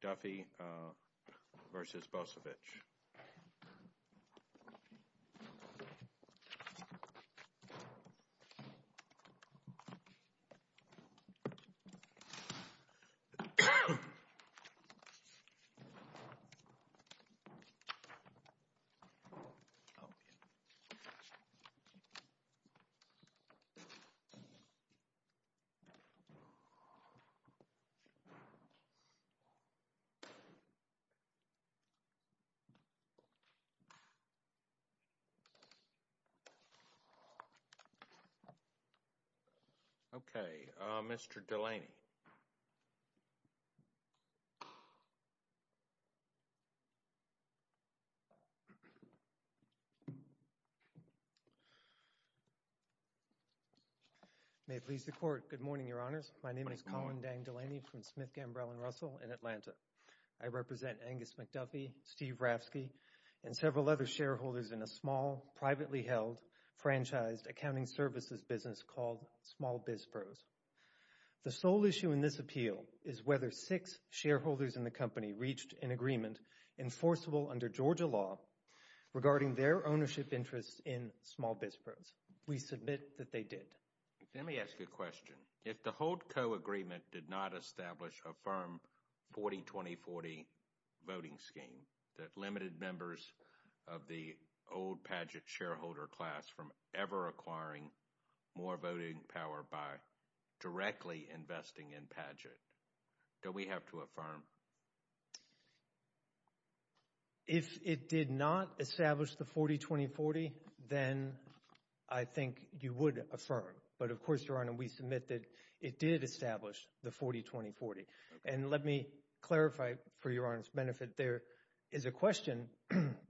McDuffie v. Bosevich Okay, Mr. Delaney. May it please the court. Good morning, your honor. I represent Angus McDuffie, Steve Ravsky, and several other shareholders in a small, privately held, franchised accounting services business called Small Biz Pros. The sole issue in this appeal is whether six shareholders in the company reached an agreement enforceable under Georgia law regarding their ownership interests in Small Biz Pros. We submit that they did. Let me ask you a question. If the Holt Co. agreement did not establish a firm 40-20-40 voting scheme that limited members of the old Paget shareholder class from ever acquiring more voting power by directly investing in Paget, do we have to affirm? If it did not establish the 40-20-40, then I think you would affirm. But of course, your honor, we submit that it did establish the 40-20-40. And let me clarify for your honor's benefit, there is a question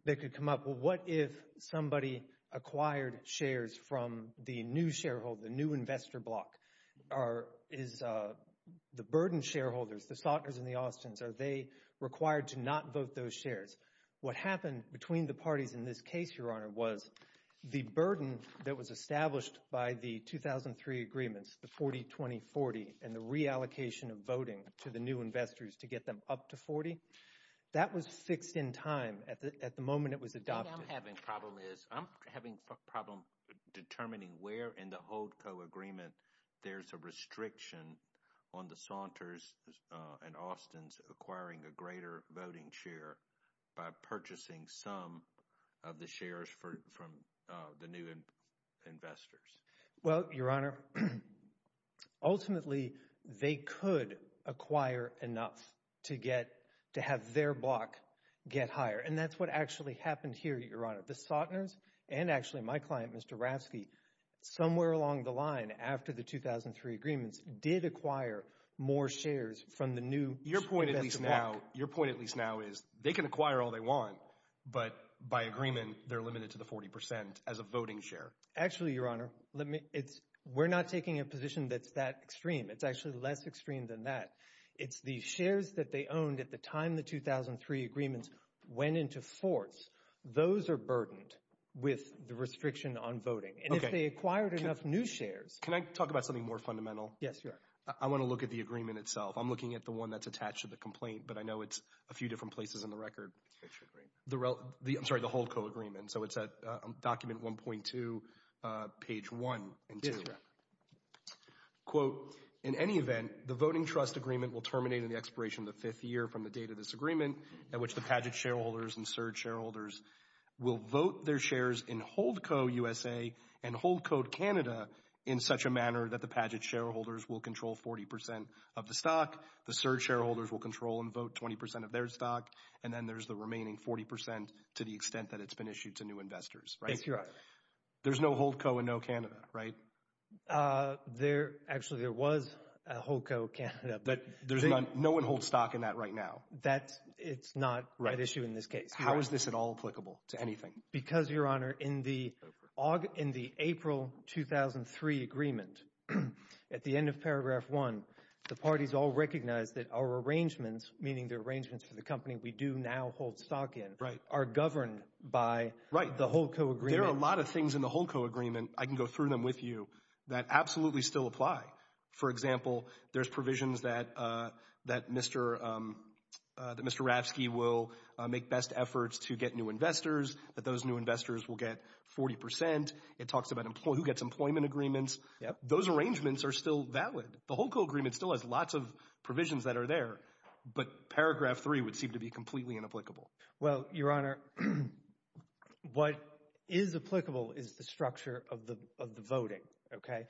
that could come up. Well, what if somebody acquired shares from the new shareholder, the new investor block? Are, is the burdened shareholders, the Saunters and the Austins, are they required to not vote those shares? What happened between the parties in this case, your honor, was the burden that was established by the 2003 agreements, the 40-20-40, and the reallocation of voting to the new investors to get them up to 40, that was fixed in time at the moment it was adopted. What I'm having a problem is, I'm having a problem determining where in the Holt Co. agreement there's a restriction on the Saunters and Austins acquiring a greater voting share by purchasing some of the shares from the new investors. Well, your honor, ultimately, they could acquire enough to get, to have their block get higher. And that's what actually happened here, your honor. The Saunters, and actually my client, Mr. Rasky, somewhere along the line, after the 2003 agreements, did acquire more shares from the new investor block. Your point at least now, your point at least now is, they can acquire all they want, but by agreement, they're limited to the 40 percent as a voting share. Actually, your honor, let me, it's, we're not taking a position that's that extreme. It's actually less extreme than that. It's the shares that they owned at the time the 2003 agreements went into force. Those are on voting. And if they acquired enough new shares. Can I talk about something more fundamental? Yes, your honor. I want to look at the agreement itself. I'm looking at the one that's attached to the complaint, but I know it's a few different places in the record. Which agreement? The, I'm sorry, the Holt Co. agreement. So it's at document 1.2, page 1 and 2. Yes, your honor. Quote, in any event, the voting trust agreement will terminate in the expiration of the fifth year from the date of this agreement, at which the Padgett shareholders and Surge shareholders will vote their shares in Holt Co. USA and Holt Co. Canada in such a manner that the Padgett shareholders will control 40 percent of the stock. The Surge shareholders will control and vote 20 percent of their stock. And then there's the remaining 40 percent to the extent that it's been issued to new investors. Right? Yes, your honor. There's no Holt Co. and no Canada, right? There, actually, there was a Holt Co. Canada, but there's none. No one holds stock in that right now. That's, it's not an issue in this case. How is this at all applicable to anything? Because, your honor, in the, in the April 2003 agreement, at the end of paragraph 1, the parties all recognize that our arrangements, meaning the arrangements for the company we do now hold stock in, are governed by the Holt Co. agreement. There are a lot of things in the Holt Co. agreement, I can go through them with you, that absolutely still apply. For example, there's provisions that, that Mr., that Mr. Ravsky will make best efforts to get new investors, that those new investors will get 40 percent. It talks about who gets employment agreements. Those arrangements are still valid. The Holt Co. agreement still has lots of provisions that are there, but paragraph 3 would seem to be completely inapplicable. Well, your honor, what is applicable is the structure of the, of the voting, okay?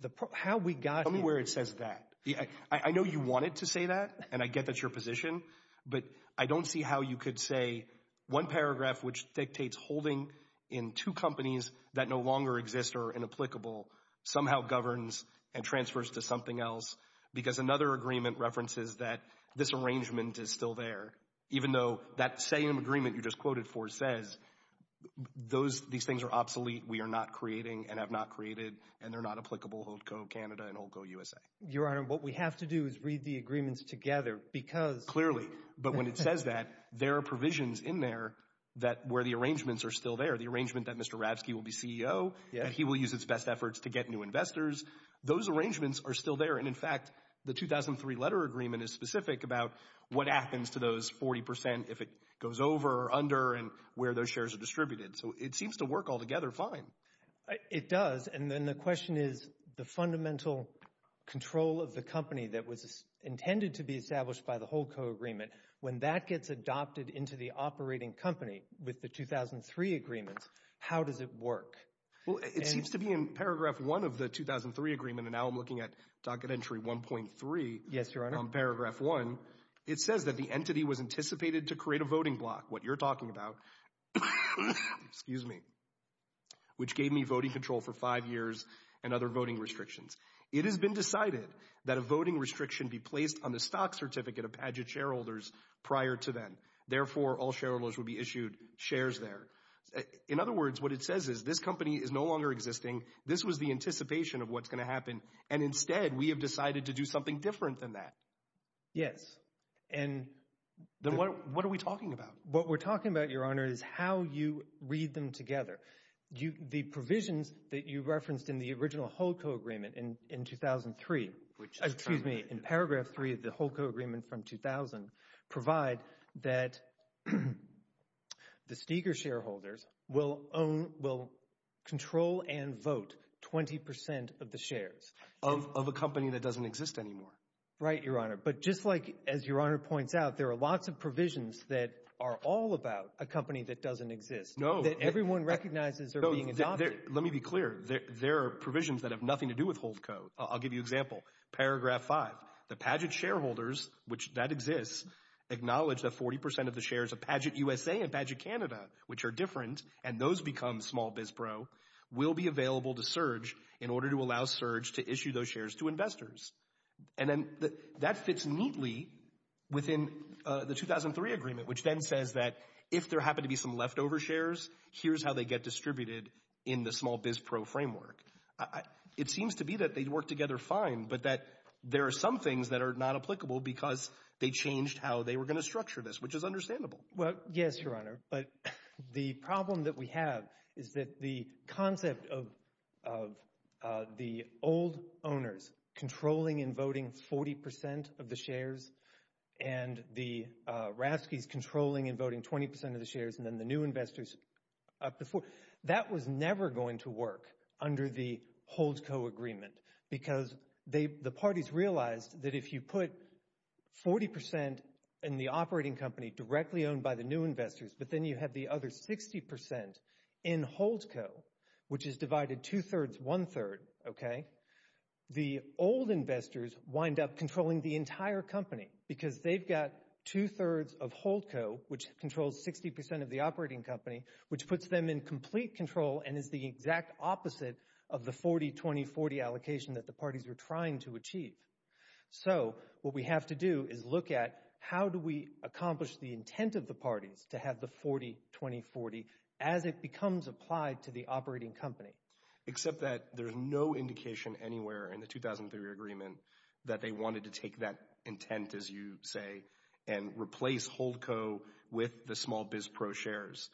The, how we got to where it says that. Yeah, I, I know you wanted to say that, and I get that's your position, but I don't see how you could say one paragraph which dictates holding in two companies that no longer exist or are inapplicable somehow governs and transfers to something else, because another agreement references that this arrangement is still there, even though that same agreement you just quoted for says those, these things are inapplicable, Holt Co., Canada and Holt Co., USA. Your honor, what we have to do is read the agreements together, because. Clearly, but when it says that, there are provisions in there that, where the arrangements are still there. The arrangement that Mr. Ravsky will be CEO. Yeah. That he will use his best efforts to get new investors. Those arrangements are still there, and in fact, the 2003 letter agreement is specific about what happens to those 40 percent if it goes over or under and where those shares are distributed. So it seems to work all together fine. It does, and then the question is the fundamental control of the company that was intended to be established by the Holt Co. agreement, when that gets adopted into the operating company with the 2003 agreements, how does it work? Well, it seems to be in paragraph one of the 2003 agreement, and now I'm looking at docket entry 1.3. Yes, your honor. On paragraph one, it says that the entity was anticipated to create a voting block, what you're talking about, which gave me voting control for five years and other voting restrictions. It has been decided that a voting restriction be placed on the stock certificate of Padgett shareholders prior to then. Therefore, all shareholders would be issued shares there. In other words, what it says is this company is no longer existing. This was the anticipation of what's going to happen, and instead, we have decided to do different than that. Yes, and then what are we talking about? What we're talking about, your honor, is how you read them together. The provisions that you referenced in the original Holt Co. agreement in 2003, excuse me, in paragraph three of the Holt Co. agreement from 2000, provide that the Steger shareholders will control and vote 20 percent of the shares of a company that doesn't exist anymore. Right, your honor, but just like, as your honor points out, there are lots of provisions that are all about a company that doesn't exist. No. That everyone recognizes are being adopted. Let me be clear. There are provisions that have nothing to do with Holt Co. I'll give you an example. Paragraph five, the Padgett shareholders, which that exists, acknowledge that 40 percent of the shares of Padgett USA and Padgett Canada, which are different, and those become small biz bro, will be available to surge in order to allow surge to issue those shares to investors. And then that fits neatly within the 2003 agreement, which then says that if there happen to be some leftover shares, here's how they get distributed in the small biz pro framework. It seems to be that they'd work together fine, but that there are some things that are not applicable because they changed how they were going to structure this, which is understandable. Well, yes, your honor, but the problem that we have is that the concept of the old owners controlling and voting 40 percent of the shares and the Ravskys controlling and voting 20 percent of the shares and then the new investors up before, that was never going to work under the Holt Co. agreement because the parties realized that if you put 40 percent in the operating company directly owned by the new investors, but then you have the other 60 percent in Holt Co., which is divided two-thirds, one-third, okay, the old investors wind up controlling the entire company because they've got two-thirds of Holt Co., which controls 60 percent of the operating company, which puts them in complete control and is the exact opposite of the 40-20-40 allocation that the parties were trying to achieve. So what we have to do is look at how do we accomplish the intent of the parties to have 40-20-40 as it becomes applied to the operating company. Except that there's no indication anywhere in the 2003 agreement that they wanted to take that intent, as you say, and replace Holt Co. with the small biz pro shares.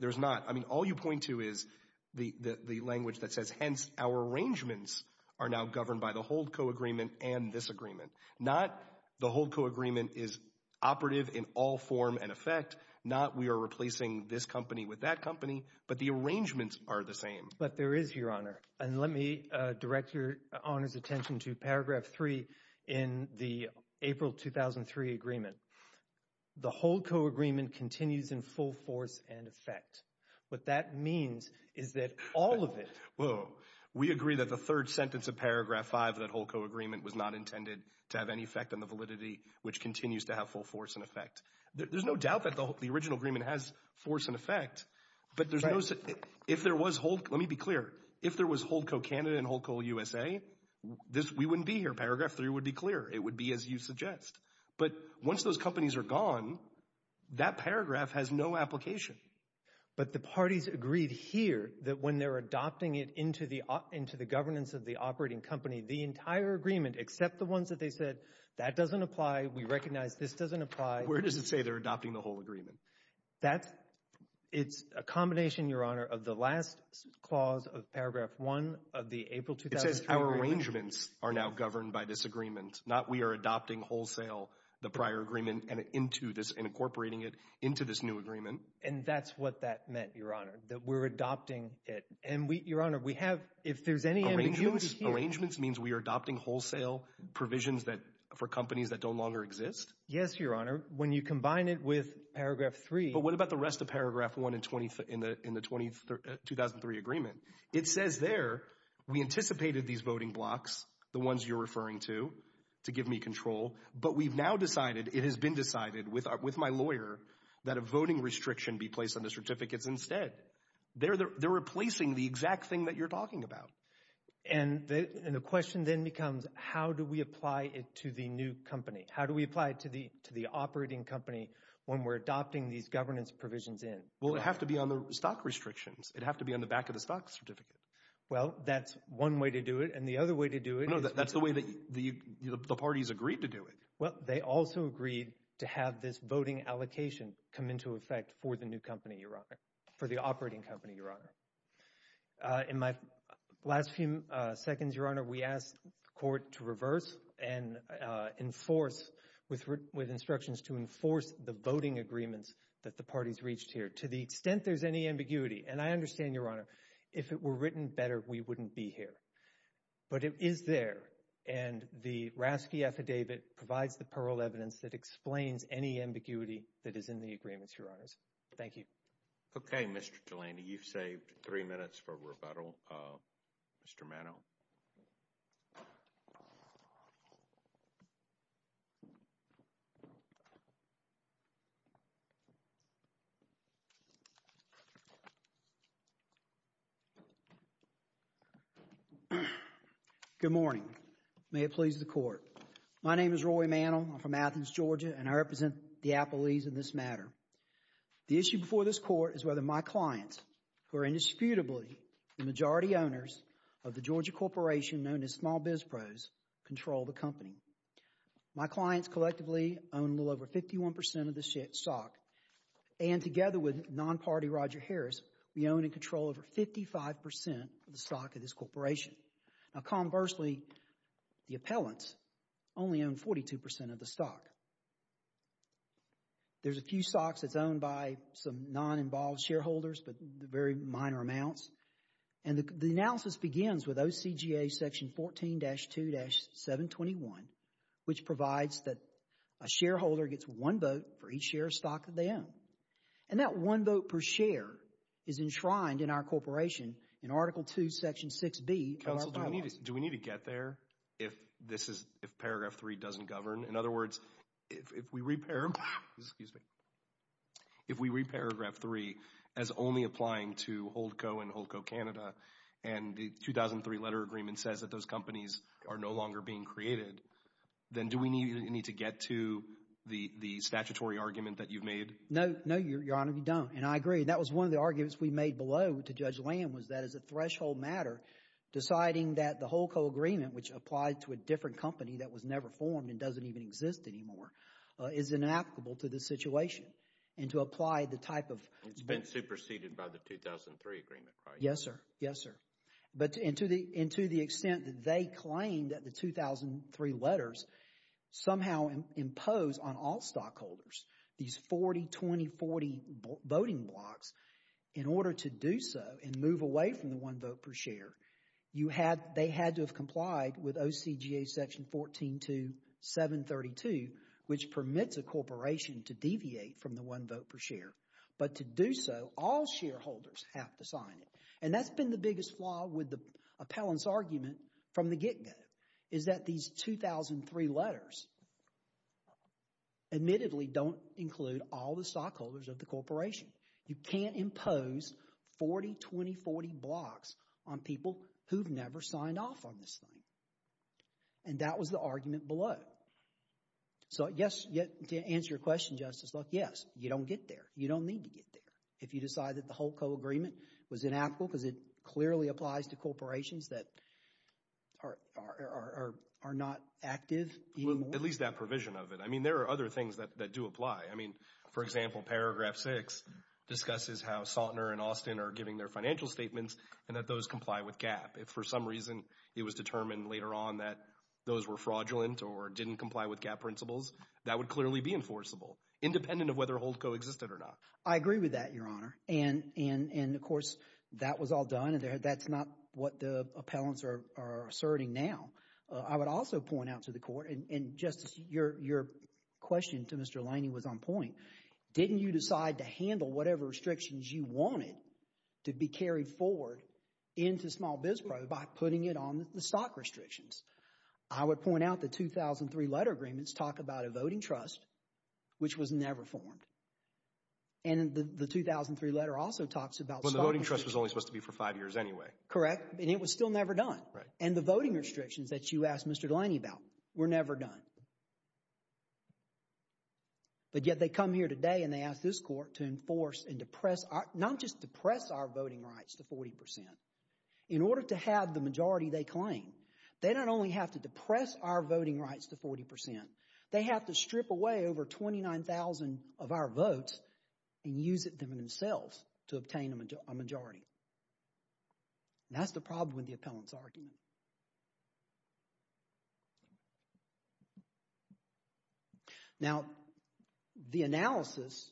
There's not. I mean, all you point to is the language that says, hence, our arrangements are now governed by the Holt Co. agreement and this agreement. Not the Holt Co. agreement is operative in all form and effect. Not we are replacing this company with that company, but the arrangements are the same. But there is, your honor, and let me direct your honor's attention to paragraph three in the April 2003 agreement. The Holt Co. agreement continues in full force and effect. What that means is that all of it... Whoa. We agree that the third to have any effect on the validity which continues to have full force and effect. There's no doubt that the original agreement has force and effect, but there's no... If there was Holt... Let me be clear. If there was Holt Co. Canada and Holt Co. USA, we wouldn't be here. Paragraph three would be clear. It would be as you suggest. But once those companies are gone, that paragraph has no application. But the parties agreed here that when they're adopting it into the governance of the that doesn't apply. We recognize this doesn't apply. Where does it say they're adopting the Holt agreement? That's... It's a combination, your honor, of the last clause of paragraph one of the April 2003 agreement. It says our arrangements are now governed by this agreement. Not we are adopting wholesale the prior agreement and incorporating it into this new agreement. And that's what that meant, your honor, that we're adopting it. And we, your honor, we have... If there's any... Arrangements means we are adopting wholesale provisions that for companies that don't longer exist? Yes, your honor. When you combine it with paragraph three... But what about the rest of paragraph one in the 2003 agreement? It says there we anticipated these voting blocks, the ones you're referring to, to give me control. But we've now decided, it has been decided with my lawyer, that a voting restriction be placed on the certificates instead. They're replacing the exact thing that you're talking about. And the question then becomes how do we apply it to the new company? How do we apply it to the to the operating company when we're adopting these governance provisions in? Well, it'd have to be on the stock restrictions. It'd have to be on the back of the stock certificate. Well, that's one way to do it. And the other way to do it... No, that's the way that the parties agreed to do it. Well, they also agreed to have this voting allocation come effect for the new company, your honor, for the operating company, your honor. In my last few seconds, your honor, we asked the court to reverse and enforce with with instructions to enforce the voting agreements that the parties reached here to the extent there's any ambiguity. And I understand, your honor, if it were written better, we wouldn't be here. But it is there. And the RASCI affidavit provides the parole evidence that explains any ambiguity that is in the agreements, your honors. Thank you. Okay, Mr. Delaney, you've saved three minutes for rebuttal. Mr. Mano. Good morning. May it please the court. My name is Roy Mano. I'm from Athens, Georgia, and I represent the appellees in this matter. The issue before this court is whether my clients, who are indisputably the majority owners of the Georgia corporation known as Small Biz Pros, control the company. My clients collectively own a little over 51 percent of the stock. And together with non-party Roger Harris, we own and control over 55 percent of the stock of this corporation. Now, conversely, the appellants only own 42 percent of the stock. There's a few stocks that's owned by some non-involved shareholders, but very minor amounts. And the analysis begins with OCGA section 14-2-721, which provides that a shareholder gets one vote for each share of stock that they own. And that one vote per share is enshrined in our corporation in Article 2, Section 6B. Do we need to get there if paragraph three doesn't govern? In other words, if we re-paragraph three as only applying to Holdco and Holdco Canada, and the 2003 letter agreement says that those companies are no longer being created, then do we need to get to the statutory argument that you've made? No, no, Your Honor, we don't. And I agree. That was one of the arguments we made below to Judge Lamb, was that as a threshold matter, deciding that the Holdco agreement, which applied to a different company that was never formed and doesn't even exist anymore, is inapplicable to this situation. And to apply the type of— It's been superseded by the 2003 agreement, right? Yes, sir. Yes, sir. And to the extent that they claim that the 2003 letters somehow impose on all stockholders these 40, 20, 40 voting blocks, in order to do so and move away from the one vote per share, they had to have complied with OCGA Section 142732, which permits a corporation to deviate from the one vote per share. But to do so, all shareholders have to sign it. And that's been the biggest flaw with the appellant's argument from the get-go, is that these 2003 letters, admittedly, don't include all the stockholders of the corporation. You can't impose 40, 20, 40 blocks on people who've never signed off on this thing. And that was the argument below. So, yes, to answer your question, Justice, look, yes, you don't get there. You don't need to get there if you decide that the Holdco agreement was inapplicable because it clearly applies to corporations that are not active anymore. At least that provision of it. I mean, there are other things that do apply. I mean, for example, Paragraph 6 discusses how Saltner and Austin are giving their financial statements and that those comply with GAAP. If for some reason it was determined later on that those were fraudulent or didn't comply with GAAP principles, that would clearly be enforceable, independent of whether Holdco existed or not. I agree with that, Your Honor. And, of course, that was all done. That's not what the appellants are asserting now. I would also point out to the Court, and Justice, your question to Mr. Laney was on point. Didn't you decide to handle whatever restrictions you wanted to be carried forward into Small Biz Pro by putting it on the stock restrictions? I would point out the 2003 letter agreements talk about a voting trust which was never formed. And the 2003 letter also talks about— But the voting trust was only supposed to be for five years anyway. Correct. And it was still never done. Right. And the voting restrictions that you asked Mr. Laney about were never done. But yet they come here today and they ask this Court to enforce and depress, not just depress our voting rights to 40 percent. In order to have the majority they claim, they not only have to depress our voting rights to 40 They have to strip away over 29,000 of our votes and use it themselves to obtain a majority. That's the problem with the appellant's argument. Now, the analysis,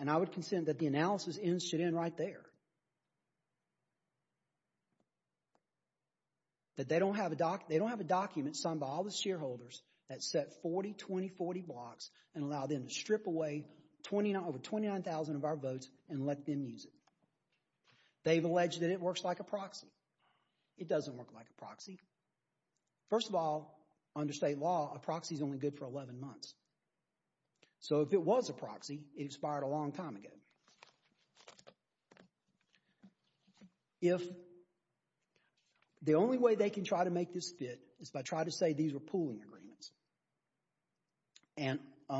and I would consent that the analysis should end right there. But they don't have a document signed by all the shareholders that set 40-20-40 blocks and allow them to strip away over 29,000 of our votes and let them use it. They've alleged that it works like a proxy. It doesn't work like a proxy. First of all, under state law, a proxy is only good for 11 months. So if it was a proxy, it expired a long time ago. Now, if the only way they can try to make this fit is by trying to say these are pooling agreements, and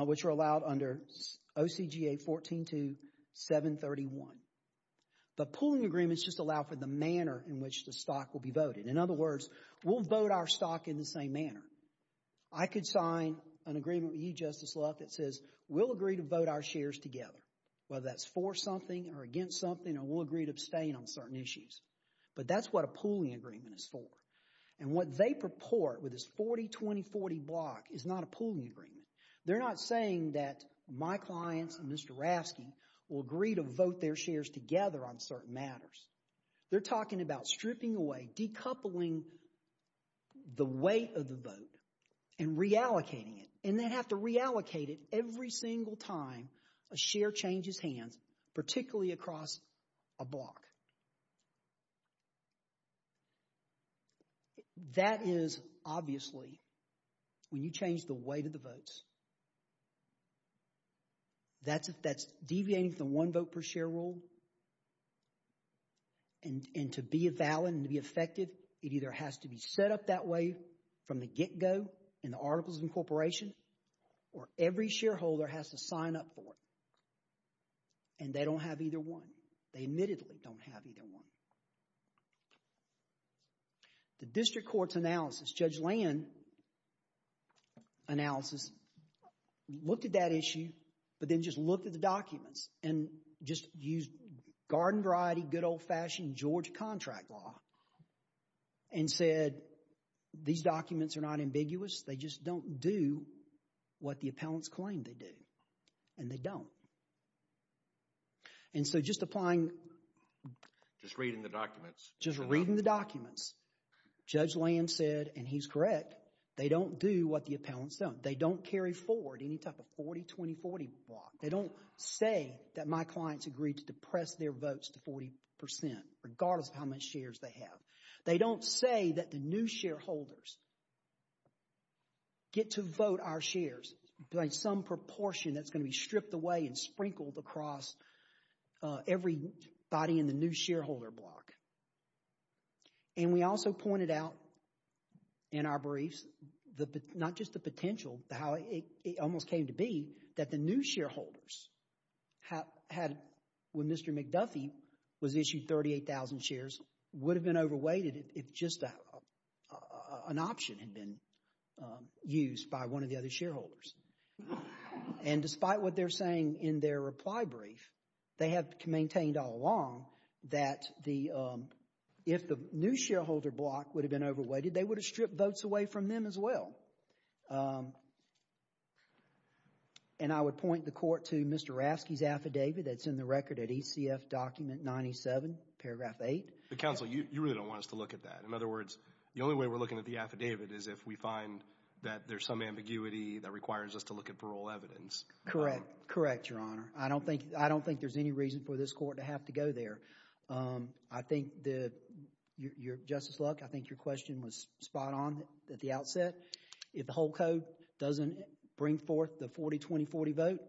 which are allowed under OCGA 14-731. But pooling agreements just allow for the manner in which the stock will be voted. In other words, we'll vote our stock in the same manner. I could sign an agreement with you, Justice Luck, that says we'll agree to vote our shares together, whether that's for something or against something, and we'll agree to abstain on certain issues. But that's what a pooling agreement is for. And what they purport with this 40-20-40 block is not a pooling agreement. They're not saying that my clients and Mr. Raskin will agree to vote their shares together on certain matters. They're talking about stripping away, decoupling the weight of the vote and reallocating it. And they have to reallocate it every single time a share changes hands, particularly across a block. That is, obviously, when you change the weight of the votes. That's deviating from the one vote per share rule. And to be valid and to be effective, it either has to be set up that way from the get-go in the Articles of Incorporation, or every shareholder has to sign up for it. And they don't have either one. They admittedly don't have either one. The district court's analysis, Judge Land analysis, looked at that issue, but then just looked at the documents and just used garden variety, good old-fashioned George contract law, and said, these documents are not ambiguous. They just don't do what the appellants claim they do. And they don't. And so just applying... Just reading the documents. Just reading the documents, Judge Land said, and he's correct, they don't do what the appellants don't. They don't carry forward any type of 40-20-40 block. They don't say that my clients agreed to depress their votes to 40%. Regardless of how much shares they have. They don't say that the new shareholders get to vote our shares by some proportion that's going to be stripped away and sprinkled across everybody in the new shareholder block. And we also pointed out in our briefs, not just the potential, how it almost came to be, that the new shareholders had, when Mr. McDuffie was issued 38,000 shares, would have been overweighted if just an option had been used by one of the other shareholders. And despite what they're saying in their reply brief, they have maintained all along that if the new shareholder block would have been overweighted, they would have stripped votes away from them as well. I would point the court to Mr. Rasky's affidavit that's in the record at ECF Document 97, Paragraph 8. Counsel, you really don't want us to look at that. In other words, the only way we're looking at the affidavit is if we find that there's some ambiguity that requires us to look at parole evidence. Correct. Correct, Your Honor. I don't think there's any reason for this court to have to go there. I think that, Justice Luck, I think your question was spot on at the outset. If the whole code doesn't bring forth the 40-20-40 vote,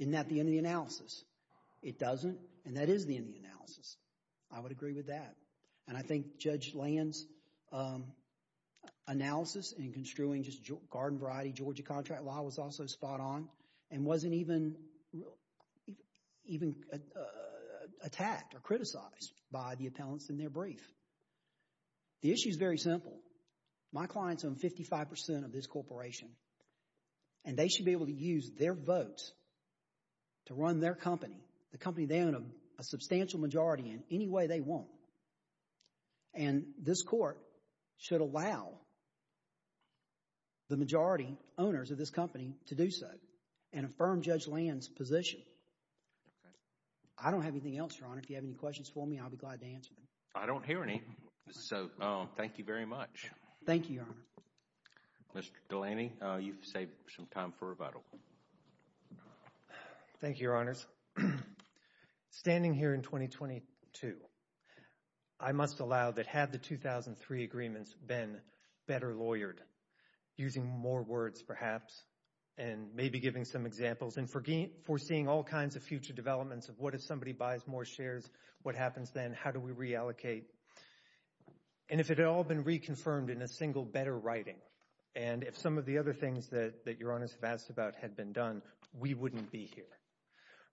isn't that the end of the analysis? It doesn't, and that is the end of the analysis. I would agree with that. And I think Judge Land's analysis in construing just garden variety Georgia contract law was also spot on and wasn't even attacked or criticized by the appellants in their brief. The issue is very simple. My clients own 55% of this corporation, and they should be able to use their votes to run their company, the company they own, a substantial majority in any way they want. And this court should allow the majority owners of this company to do so and affirm Judge Land's position. I don't have anything else, Your Honor. If you have any questions for me, I'll be glad to answer them. I don't hear any, so thank you very much. Thank you, Your Honor. Mr. Delaney, you've saved some time for rebuttal. Thank you, Your Honors. Standing here in 2022, I must allow that had the 2003 agreements been better lawyered, using more words perhaps, and maybe giving some examples and foreseeing all kinds of future developments of what if somebody buys more shares, what happens then? How do we reallocate? And if it had all been reconfirmed in a single better writing, and if some of the other things that Your Honors have asked about had been done, we wouldn't be here.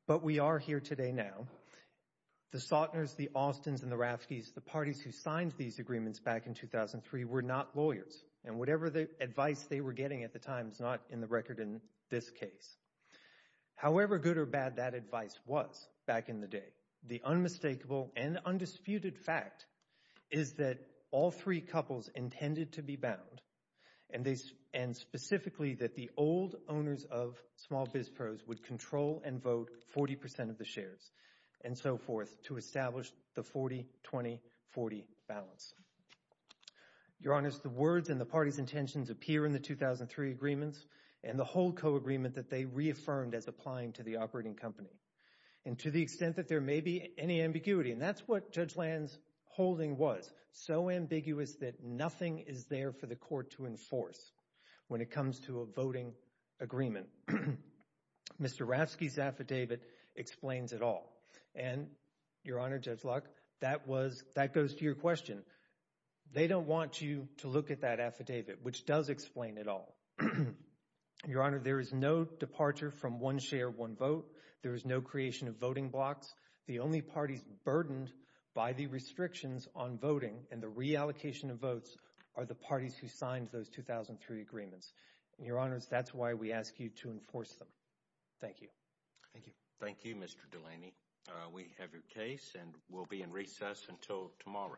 But we are here today now. The Sautners, the Austins, and the Raffkes, the parties who signed these agreements back in 2003, were not lawyers. And whatever advice they were getting at the time is not in the record in this case. However good or bad that advice was back in the day, the unmistakable and undisputed fact is that all three couples intended to be bound, and specifically that the old owners of small biz pros would control and vote 40 percent of the shares and so forth to establish the 40-20-40 balance. Your Honors, the words and the parties' intentions appear in the 2003 agreements and the whole co-agreement that they reaffirmed as applying to the operating company. And to the extent that there may be any ambiguity, and that's what Judge Land's holding was, so ambiguous that nothing is there for the court to enforce when it comes to a voting agreement. Mr. Raffke's affidavit explains it all. And Your Honor, Judge Locke, that goes to your question. They don't want you to look at that affidavit, which does explain it all. Your Honor, there is no departure from one share, one vote. There is no creation of voting blocks. The only parties burdened by the restrictions on voting and the reallocation of votes are the parties who signed those 2003 agreements. And Your Honors, that's why we ask you to enforce them. Thank you. Thank you. Thank you, Mr. Delaney. We have your case and we'll be in recess until tomorrow. Thank you.